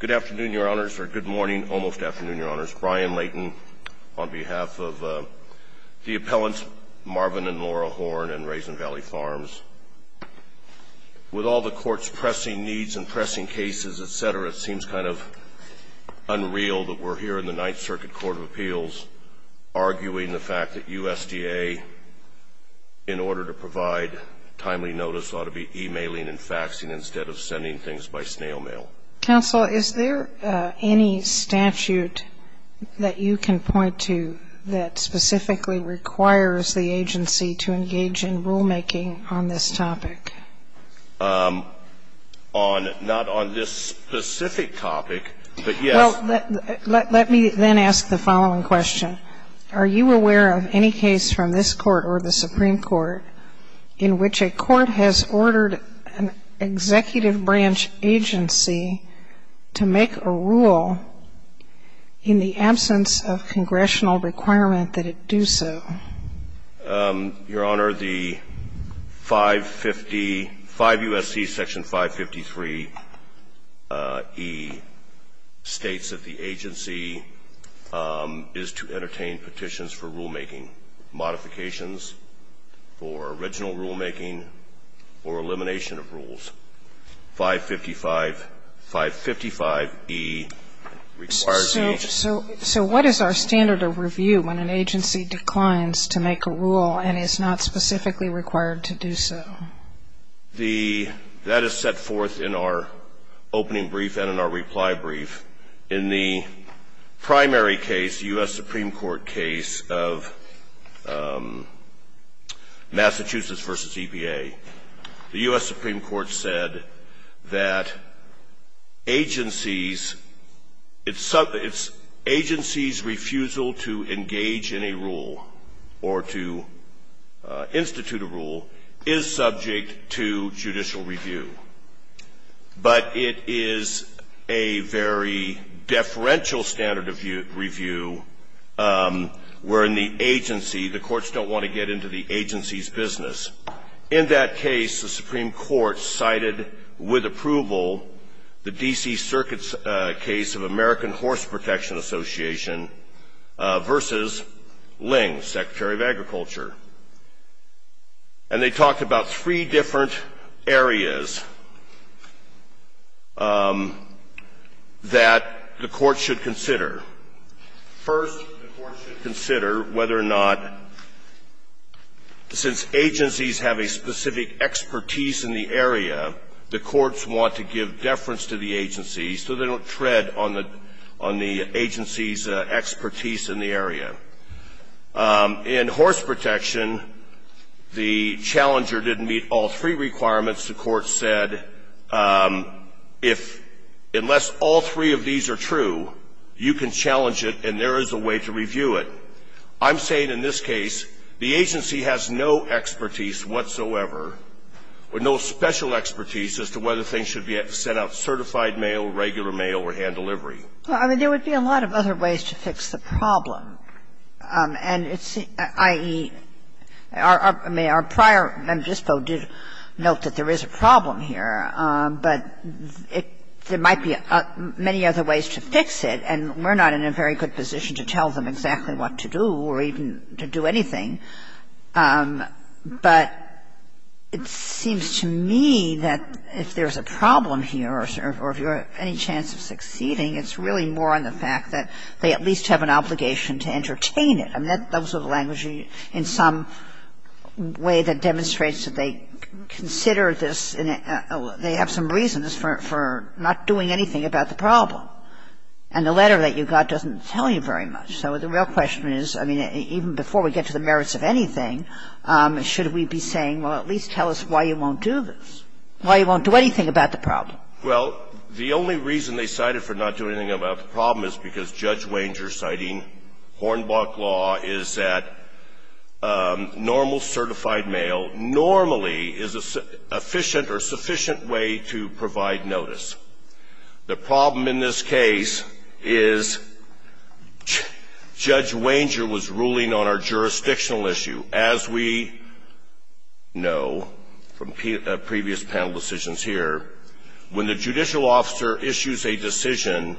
Good afternoon, your honors, or good morning, almost afternoon, your honors. Brian Layton on behalf of the appellants Marvin and Laura Horne and Raisin Valley Farms. With all the court's pressing needs and pressing cases, etc., it seems kind of unreal that we're here in the Ninth Circuit Court of Appeals arguing the fact that USDA, in order to provide timely notice, ought to be emailing and faxing instead of sending things by snail mail. Counsel, is there any statute that you can point to that specifically requires the agency to engage in rulemaking on this topic? Not on this specific topic, but yes. Well, let me then ask the following question. Are you aware of any case from this Court or the Supreme Court in which a court has ordered an executive branch agency to make a rule in the absence of congressional requirement that it do so? Your Honor, the 550, 5 U.S.C. Section 553e states that the agency is to entertain petitions for rulemaking, modifications for original rulemaking, or elimination of rules. 555, 555e requires the agency to make a rule. And is not specifically required to do so. That is set forth in our opening brief and in our reply brief. In the primary case, the U.S. Supreme Court case of Massachusetts v. EPA, the U.S. Supreme Court said that agencies, it's agency's refusal to engage in a rule or to institute a rule is subject to judicial review. But it is a very deferential standard of review wherein the agency, the courts don't want to get into the agency's business. In that case, the Supreme Court cited with approval the D.C. Circuit's case of American Horse Protection Association v. Ling, Secretary of Agriculture. And they talked about three different areas that the court should consider. First, the court should consider whether or not, since agencies have a specific expertise in the area, the courts want to give deference to the agencies so they don't tread on the agency's expertise in the area. In horse protection, the challenger didn't meet all three requirements. The court said if, unless all three of these are true, you can challenge it and there is a way to review it. I'm saying in this case the agency has no expertise whatsoever, or no special expertise as to whether things should be set out certified mail, regular mail, or hand delivery. Well, I mean, there would be a lot of other ways to fix the problem. And it's, i.e., our prior member of the dispo did note that there is a problem here. But there might be many other ways to fix it, and we're not in a very good position to tell them exactly what to do or even to do anything. But it seems to me that the problem here, or if you have any chance of succeeding, it's really more on the fact that they at least have an obligation to entertain it. I mean, those are the languages in some way that demonstrates that they consider this, they have some reasons for not doing anything about the problem. And the letter that you got doesn't tell you very much. So the real question is, I mean, even before we get to the merits of anything, should we be saying, well, at least tell us why you won't do this, why you won't do anything about the problem? Well, the only reason they cited for not doing anything about the problem is because Judge Wanger's citing Hornbach law is that normal certified mail normally is an efficient or sufficient way to provide notice. The problem in this case is Judge Wanger was ruling on our jurisdictional issue. As we know from previous panel decisions here, when the judicial officer issues a decision,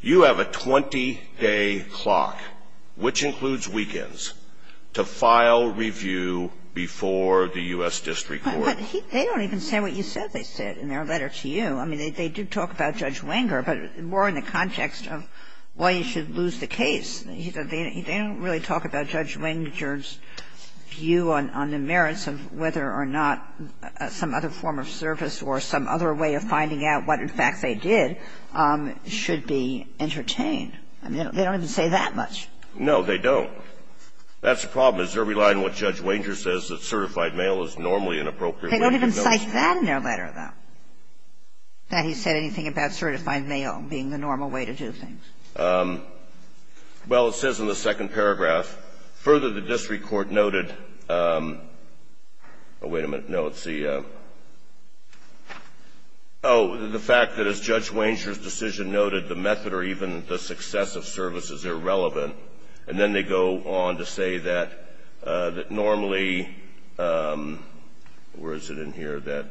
you have a 20-day clock, which includes weekends, to file review before the U.S. district court. But they don't even say what you said they said in their letter to you. I mean, they did talk about Judge Wanger, but more in the context of why you should lose the case. They don't really talk about Judge Wanger's view on the merits of whether or not some other form of service or some other way of finding out what, in fact, they did should be entertained. I mean, they don't even say that much. No, they don't. That's the problem, is they're relying on what Judge Wanger says, that certified mail is normally an appropriate way to give notice. They don't even cite that in their letter, though, that he said anything about certified mail being the normal way to do things. Well, it says in the second paragraph, further the district court noted, oh, wait a minute. No, it's the oh, the fact that as Judge Wanger's decision noted, the method or even the success of service is irrelevant. And then they go on to say that normally where is it in here, that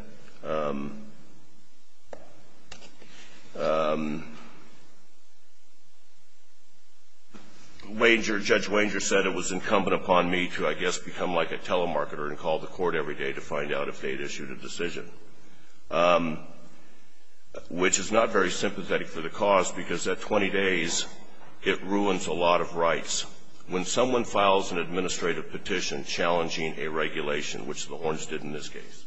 Wanger, Judge Wanger said it was incumbent upon me to, I guess, become like a telemarketer and call the court every day to find out if they had issued a decision, which is not very sympathetic for the cause because at 20 days, it ruins a lot of rights. When someone files an administrative petition challenging a regulation, which the Horns did in this case,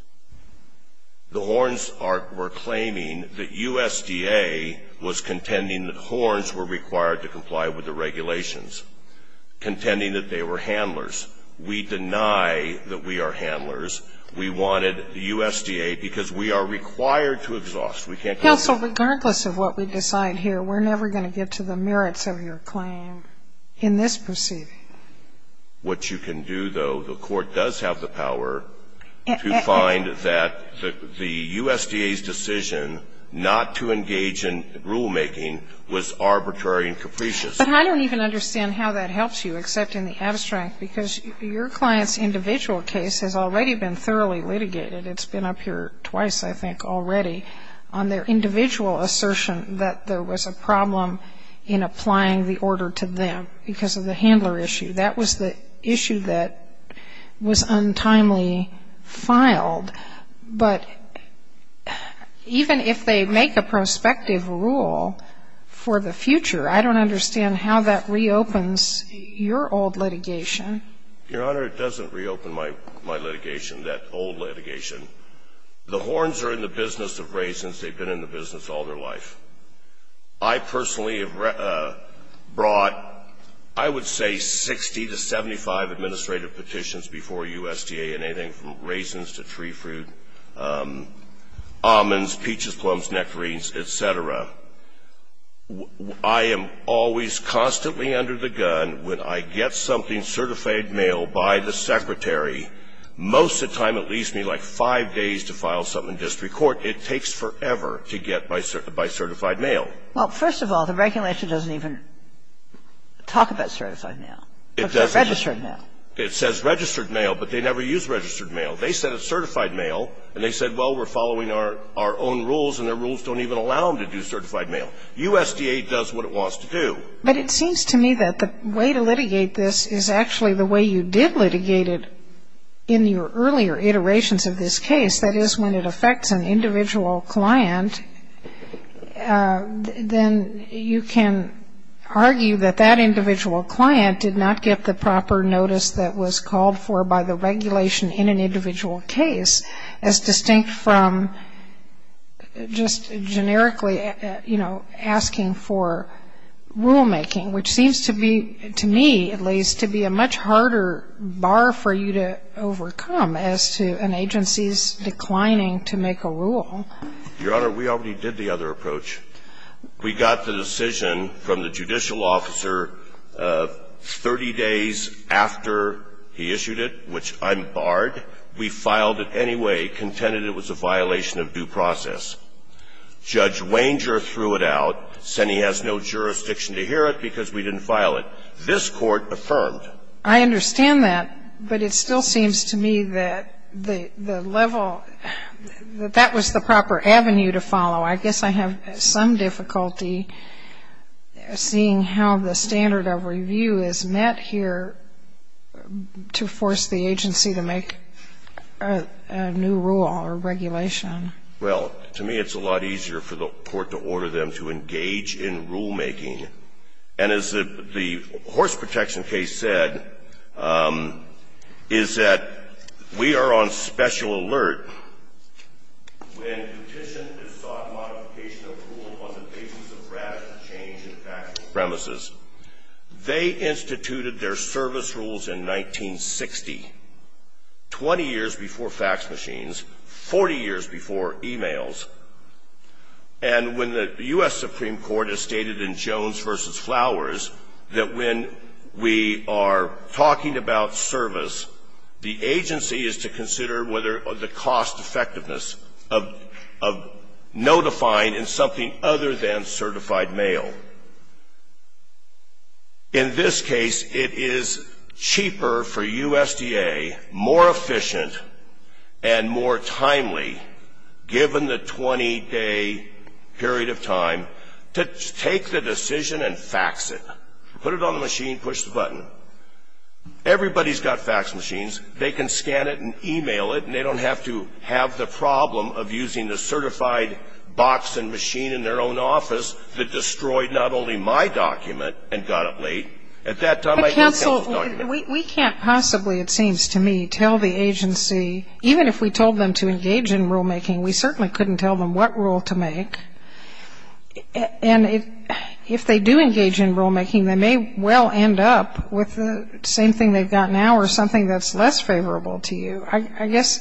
the Horns were claiming that USDA was contending that Horns were required to comply with the regulations, contending that they were handlers. We deny that we are handlers. We wanted the USDA because we are required to exhaust. We can't Counsel, regardless of what we decide here, we're never going to get to the merits of your claim in this proceeding. What you can do, though, the court does have the power to find that the USDA's decision not to engage in rulemaking was arbitrary and capricious. But I don't even understand how that helps you, except in the abstract, because your client's individual case has already been thoroughly litigated. It's been up here twice, I think, already on their individual assertion that there was a problem in applying the order to them because of the handler issue. That was the issue that was untimely filed. But even if they make a prospective rule for the future, I don't understand how that reopens your old litigation. Your Honor, it doesn't reopen my litigation, that old litigation. The Horns are in the business all their life. I personally have brought, I would say, 60 to 75 administrative petitions before USDA in anything from raisins to tree fruit, almonds, peaches, plums, nectarines, et cetera. I am always constantly under the gun when I get something certified mail by the secretary. Most of the time it leaves me like a vacuum. I don't know how long it takes. It takes, you know, five days to file something in district court. It takes forever to get by certified mail. Well, first of all, the regulation doesn't even talk about certified mail. It doesn't. Registered mail. It says registered mail, but they never use registered mail. They said it's certified mail and they said, well, we're following our own rules and the rules don't even allow them to do certified mail. USDA does what it wants to do. But it seems to me that the way to litigate this is actually the way you did litigate it in your earlier iterations of this case. That is, when it affects an individual client, then you can argue that that individual client did not get the proper notice that was called for by the regulation in an individual case, as to an agency's declining to make a rule. Your Honor, we already did the other approach. We got the decision from the judicial officer 30 days after he issued it, which I'm barred. We filed it anyway, contended it was a violation of due process. Judge Wanger threw it out, said he has no jurisdiction to hear it because we didn't file it. This Court affirmed. I understand that, but it still seems to me that the level, that that was the proper avenue to follow. I guess I have some difficulty seeing how the standard of review is met here to force the agency to make a new rule or regulation. Well, to me, it's a lot easier for the Court to order them to engage in rulemaking. And as the horse protection case said, is that we are on special alert when petition is sought modification of rule on the basis of radical change in factual premises. They instituted their service rules in 1960, 20 years before fax machines, 40 years before e-mails. And when the U.S. Supreme Court has stated in Jones v. Flowers that when we are talking about service, the agency is to consider whether the cost effectiveness of, of notifying in something other than certified mail. In this case, it is cheaper for USDA, more efficient, and more timely, given the 20-day period of time, to take the decision and fax it. Put it on the machine, push the button. Everybody's got fax machines. They can scan it and e-mail it, and they don't have to have the problem of using the certified box and machine in their own office that we can't possibly, it seems to me, tell the agency, even if we told them to engage in rulemaking, we certainly couldn't tell them what rule to make. And if they do engage in rulemaking, they may well end up with the same thing they've got now or something that's less favorable to you. I guess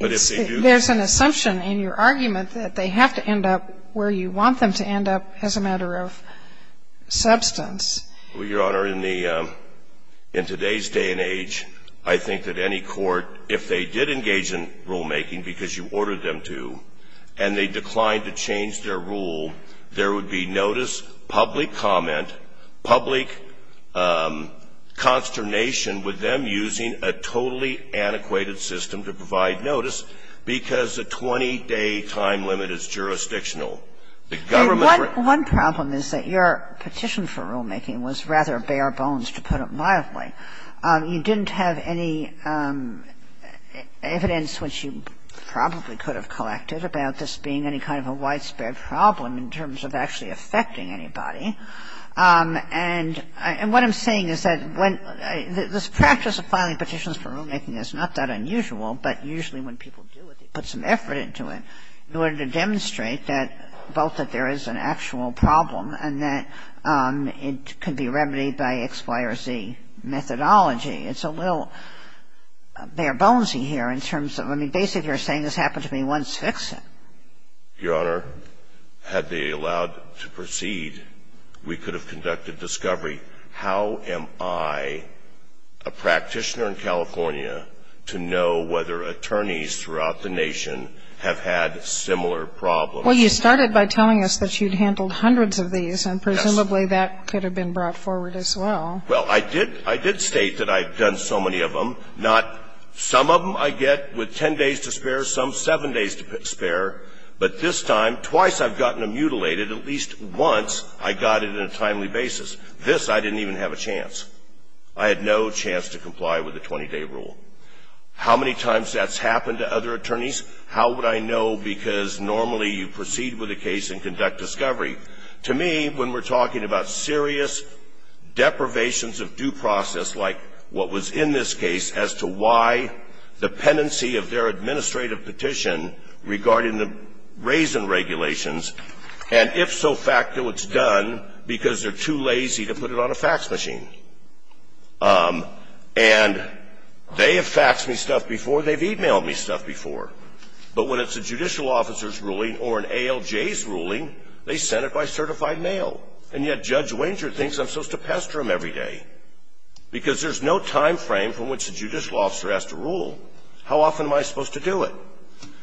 there's an assumption in your argument that they have to end up where you want them to end up as a matter of substance. Well, Your Honor, in the, in today's day and age, I think that any court, if they did engage in rulemaking, because you ordered them to, and they declined to change their rule, there would be notice, public comment, public consternation with them using a totally antiquated system to provide notice because the 20-day time limit is jurisdictional. One problem is that your petition for rulemaking was rather bare bones, to put it mildly. You didn't have any evidence which you probably could have collected about this being any kind of a widespread problem in terms of actually affecting anybody. And what I'm saying is that when the practice of filing petitions for rulemaking is not that unusual, but usually when people do it, they put some effort into it in the sense that it's not that unusual. And so I'm not saying that both that there is an actual problem and that it could be remedied by X, Y, or Z methodology. It's a little bare bones-y here in terms of, I mean, basically you're saying this happened to me once. Fix it. Your Honor, had they allowed to proceed, we could have conducted discovery. How am I, a practitioner in California, to know whether attorneys throughout the nation have had similar problems? Well, you started by telling us that you'd handled hundreds of these. Yes. And presumably that could have been brought forward as well. Well, I did state that I've done so many of them. Not some of them I get with 10 days to spare, some 7 days to spare. But this time, twice I've gotten them mutilated. At least once I got it in a timely basis. This I didn't even have a chance. I had no chance to comply with the 20-day rule. How many times that's happened to other attorneys, how would I know? Because normally you proceed with a case and conduct discovery. To me, when we're talking about serious deprivations of due process like what was in this case as to why the pendency of their administrative petition regarding the raisin regulations, and if so, fact that it's done because they're too lazy to put it on a fax machine. And they have faxed me stuff before. They've e-mailed me stuff before. But when it's a judicial officer's ruling or an ALJ's ruling, they send it by certified mail. And yet Judge Wenger thinks I'm supposed to pester him every day, because there's no time frame from which a judicial officer has to rule. How often am I supposed to do it?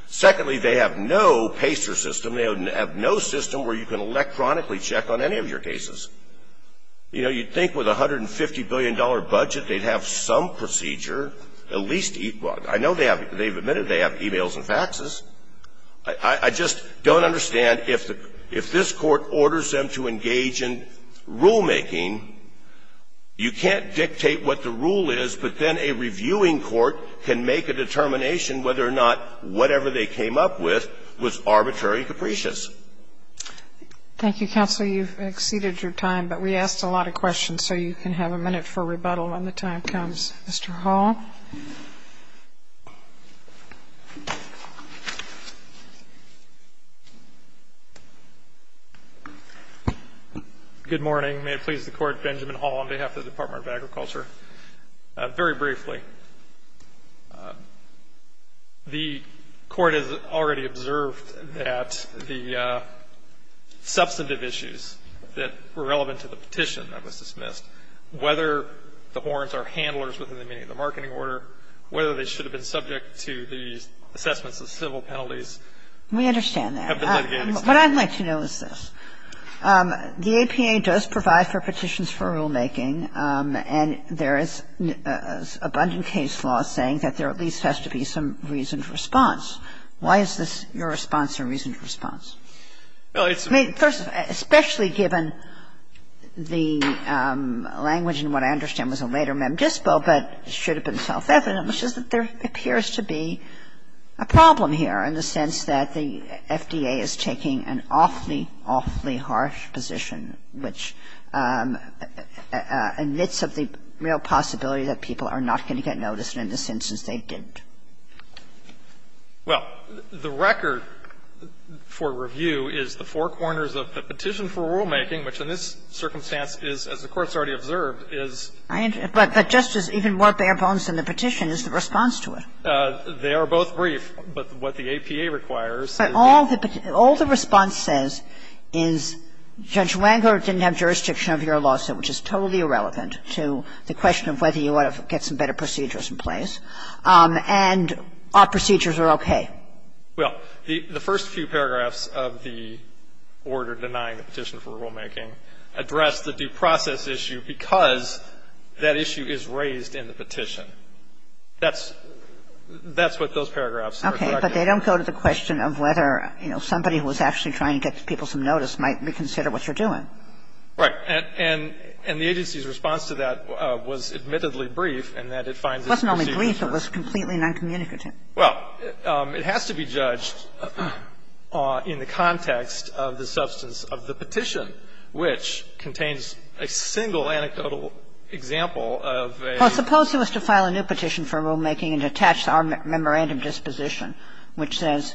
Secondly, they have no pester system. They have no system where you can electronically check on any of your cases. You know, you'd think with a $150 billion budget they'd have some procedure, at least equal. I know they have. They've admitted they have e-mails and faxes. I just don't understand. If this Court orders them to engage in rulemaking, you can't dictate what the rule is, but then a reviewing court can make a determination whether or not whatever they came up with was arbitrary and capricious. Thank you, counsel. You've exceeded your time. But we asked a lot of questions, so you can have a minute for rebuttal when the time Mr. Hall. Good morning. May it please the Court. Benjamin Hall on behalf of the Department of Agriculture. Very briefly, the Court has already observed that the substantive issues that were relevant to the petition that was dismissed, whether the warrants are handlers within the meaning of the marketing order, whether they should have been subject to the assessments of civil penalties have been litigated. What I'd like to know is this. The APA does provide for petitions for rulemaking, and there is abundant case law saying that there at least has to be some reasoned response. Why is this your response or reasoned response? I mean, first, especially given the language in what I understand was a later mem dispo, but should have been self-evident, which is that there appears to be a problem here in the sense that the FDA is taking an awfully, awfully harsh position which admits of the real possibility that people are not going to get noticed in the senses they didn't. Well, the record for review is the four corners of the petition for rulemaking, which in this circumstance is, as the Court's already observed, is the four corners So there's a lot of evidence there. But what the APA requires is that there has to be some reasoned response. But all the response says is Judge Wengler didn't have jurisdiction over your lawsuit, which is totally irrelevant to the question of whether you ought to get some better procedures in place. And our procedures are okay. Well, the first few paragraphs of the order denying the petition for rulemaking address the due process issue because that issue is raised in the petition. That's what those paragraphs are. Okay. But they don't go to the question of whether, you know, somebody who was actually trying to get people some notice might reconsider what you're doing. Right. And the agency's response to that was admittedly brief in that it finds this procedure It wasn't only brief. It was completely noncommunicative. Well, it has to be judged in the context of the substance of the petition, which contains a single anecdotal example of a Well, suppose it was to file a new petition for rulemaking and attach our memorandum disposition, which says,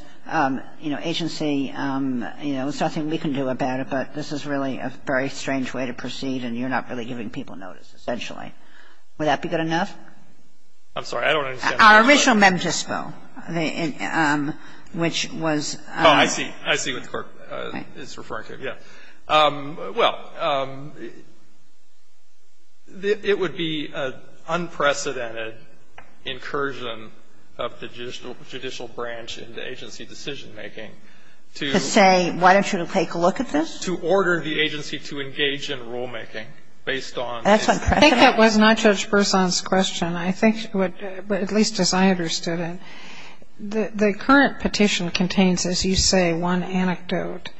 you know, agency, you know, there's nothing we can do about it, but this is really a very strange way to proceed and you're not really giving people notice, essentially. Would that be good enough? I'm sorry. I don't understand. Our original mem dispo, which was Oh, I see. I see what the Court is referring to. Yeah. Well, it would be an unprecedented incursion of the judicial branch into agency decisionmaking to To say, why don't you take a look at this? To order the agency to engage in rulemaking based on That's unprecedented. I think that was not Judge Berzon's question. But at least as I understood it, the current petition contains, as you say, one anecdote.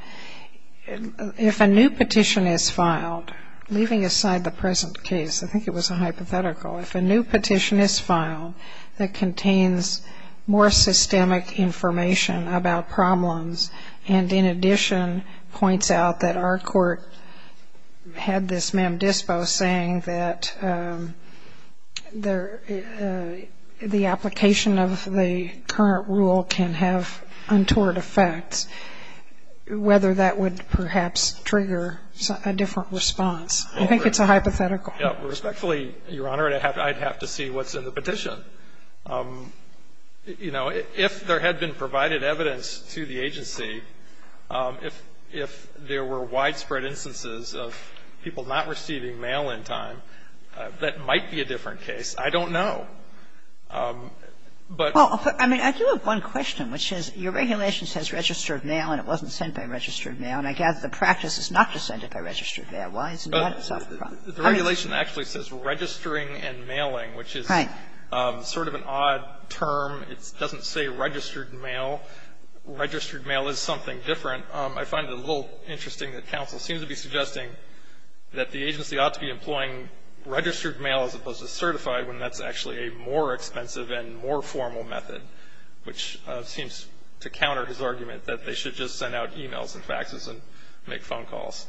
If a new petition is filed, leaving aside the present case, I think it was a hypothetical. If a new petition is filed that contains more systemic information about problems and in addition points out that our court had this mem dispo saying that the application of the current rule can have untoward effects, whether that would perhaps trigger a different response, I think it's a hypothetical. Respectfully, Your Honor, I'd have to see what's in the petition. You know, if there had been provided evidence to the agency, if there were widespread instances of people not receiving mail in time, that might be a different case. I don't know. But Well, I mean, I do have one question, which is, your regulation says registered mail, and it wasn't sent by registered mail, and I gather the practice is not to send it by registered mail. Why is that? The regulation actually says registering and mailing, which is sort of an odd term. It doesn't say registered mail. Registered mail is something different. I find it a little interesting that counsel seems to be suggesting that the agency ought to be employing registered mail as opposed to certified when that's actually a more expensive and more formal method, which seems to counter his argument that they should just send out e-mails and faxes and make phone calls.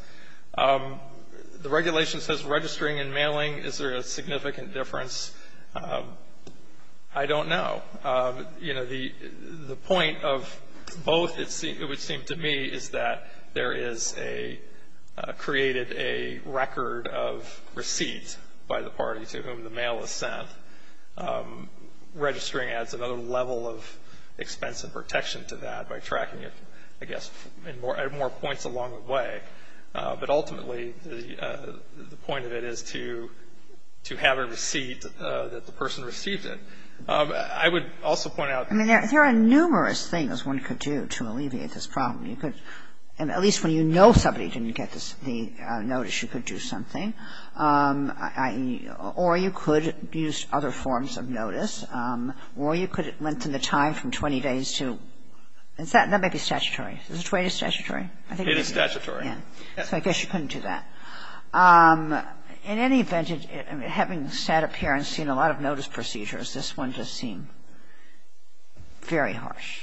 The regulation says registering and mailing. Is there a significant difference? I don't know. You know, the point of both, it would seem to me, is that there is a created a record of receipt by the party to whom the mail is sent. Registering adds another level of expense and protection to that by tracking it, I guess, at more points along the way. But ultimately, the point of it is to have a receipt that the person received it. I would also point out that there are numerous things one could do to alleviate this problem. You could, at least when you know somebody didn't get the notice, you could do something. Or you could use other forms of notice, or you could lengthen the time from 20 days to — that may be statutory. Is 20 days statutory? It is statutory. So I guess you couldn't do that. In any event, having sat up here and seen a lot of notice procedures, this one does seem very harsh. It's a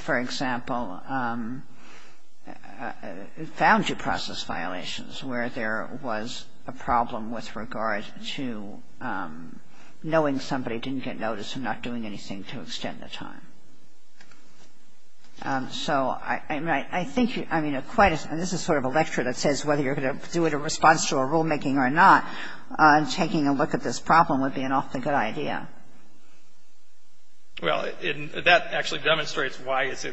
very — it's found to process violations where there was a problem with regard to knowing somebody didn't get notice and not doing anything to extend the time. So I think you — I mean, this is sort of a lecture that says whether you're going to do it in response to a rulemaking or not, taking a look at this problem would be an awfully good idea. Well, that actually demonstrates why it's a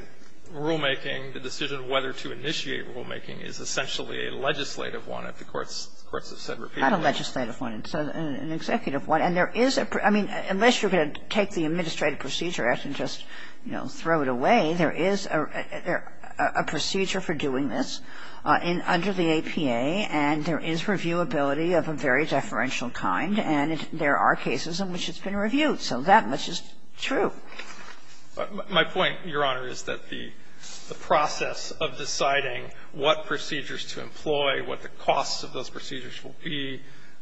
rulemaking. The decision of whether to initiate rulemaking is essentially a legislative one, as the courts have said repeatedly. Not a legislative one. It's an executive one. And there is a — I mean, unless you're going to take the Administrative Procedure Act and just, you know, throw it away, there is a procedure for doing this under the APA, and there is reviewability of a very deferential kind, and there are cases in which it's been reviewed. So that much is true. My point, Your Honor, is that the process of deciding what procedures to employ, what the costs of those procedures will be,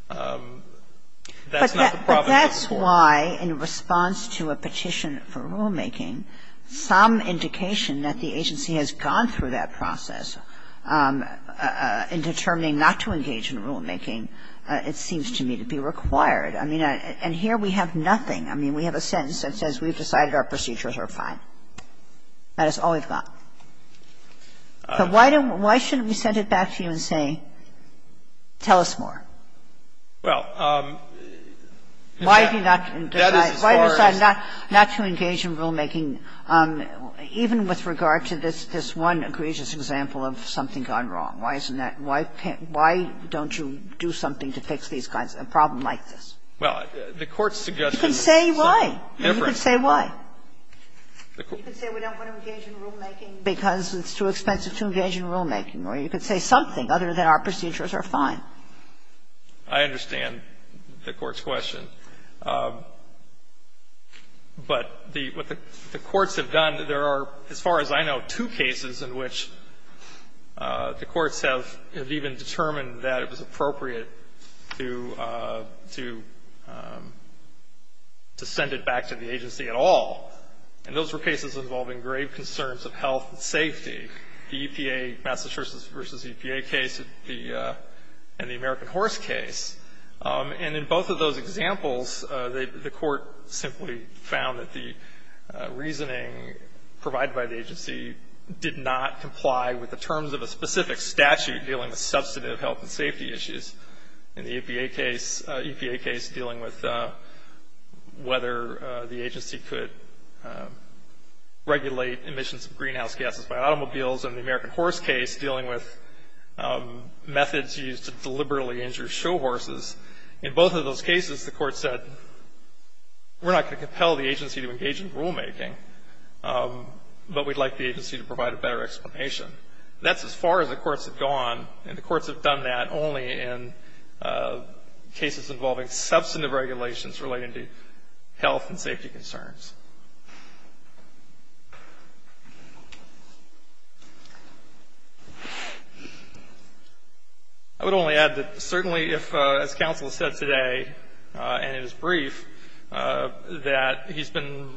that's not the problem. But that's why, in response to a petition for rulemaking, some indication that the agency has gone through that process in determining not to engage in rulemaking seems to me to be required. I mean, and here we have nothing. I mean, we have a sentence that says we've decided our procedures are fine. That is all we've got. So why don't we — why shouldn't we send it back to you and say, tell us more? Well, that is as far as we can go. Why do you not decide not to engage in rulemaking, even with regard to this one egregious example of something gone wrong? Why isn't that — why can't — why don't you do something to fix these kinds of — a problem like this? Well, the Court's suggestion is something different. You can say why. You can say why. You can say we don't want to engage in rulemaking because it's too expensive to engage in rulemaking, or you can say something other than our procedures are fine. I understand the Court's question. But the — what the courts have done, there are, as far as I know, two cases in which the courts have even determined that it was appropriate to send it back to the agency at all. And those were cases involving grave concerns of health and safety. The EPA, Massachusetts v. EPA case and the American Horse case. And in both of those examples, the Court simply found that the reasoning provided by the agency did not comply with the terms of a specific statute dealing with substantive health and safety issues. In the EPA case, EPA case dealing with whether the agency could regulate emissions of greenhouse gases by automobiles, and the American Horse case dealing with methods used to deliberately injure show horses. In both of those cases, the Court said we're not going to compel the agency to engage in rulemaking, but we'd like the agency to provide a better explanation. That's as far as the courts have gone, and the courts have done that only in cases involving substantive regulations relating to health and safety concerns. I would only add that certainly if, as counsel said today, and it was brief, that he's been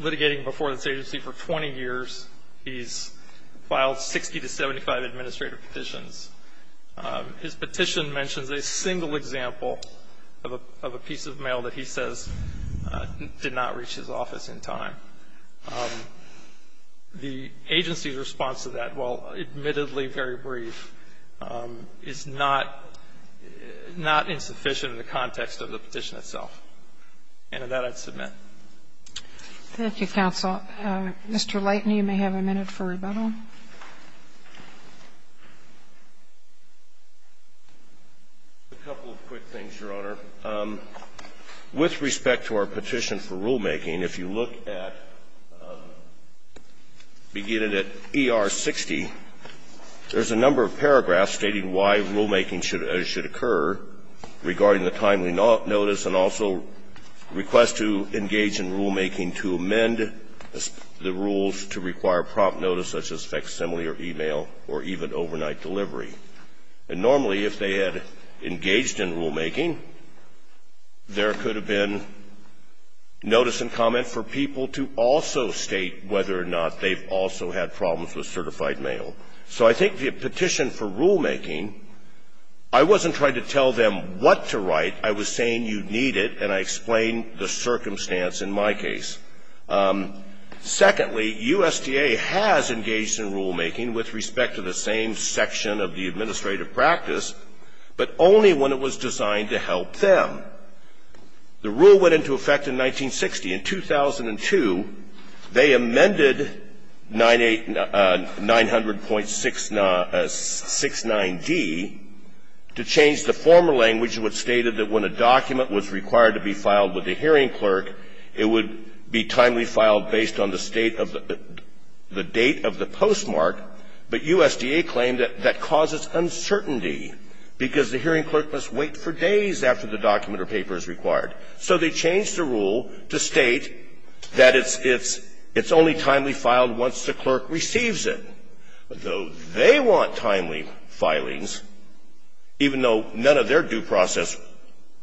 litigating before this agency for 20 years, he's filed 60 to 75 administrative petitions. His petition mentions a single example of a piece of mail that he says did not reach his office in time. The agency's response to that, while admittedly very brief, is not insufficient in the context of the petition itself. And that I'd submit. Thank you, counsel. Mr. Layton, you may have a minute for rebuttal. A couple of quick things, Your Honor. With respect to our petition for rulemaking, if you look at, beginning at ER 60, there's a number of paragraphs stating why rulemaking should occur regarding the timely notice and also request to engage in rulemaking to amend the rules to require prompt notice such as facsimile or e-mail or even overnight delivery. And normally, if they had engaged in rulemaking, there could have been notice and comment for people to also state whether or not they've also had problems with certified mail. So I think the petition for rulemaking, I wasn't trying to tell them what to write. I was saying you need it, and I explained the circumstance in my case. Secondly, USDA has engaged in rulemaking with respect to the same section of the administrative practice, but only when it was designed to help them. The rule went into effect in 1960. In 2002, they amended 900.69d to change the former language which stated that when the document was required to be filed with the hearing clerk, it would be timely filed based on the state of the date of the postmark, but USDA claimed that that causes uncertainty because the hearing clerk must wait for days after the document or paper is required. So they changed the rule to state that it's only timely filed once the clerk receives it, though they want timely filings, even though none of their due process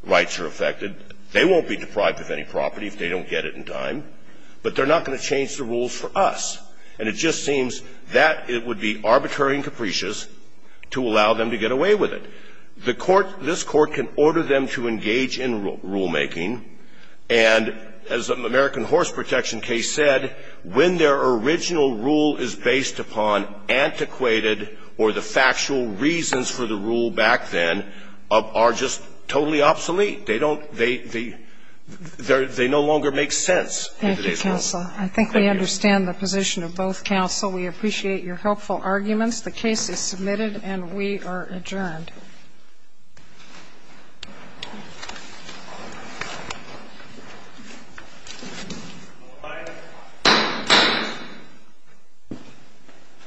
rights are affected. They won't be deprived of any property if they don't get it in time. But they're not going to change the rules for us. And it just seems that it would be arbitrary and capricious to allow them to get away with it. The Court, this Court can order them to engage in rulemaking, and as the American original rule is based upon antiquated or the factual reasons for the rule back then, are just totally obsolete. They don't they they no longer make sense. Thank you, counsel. I think we understand the position of both counsel. We appreciate your helpful arguments. The case is submitted and we are adjourned. Thank you.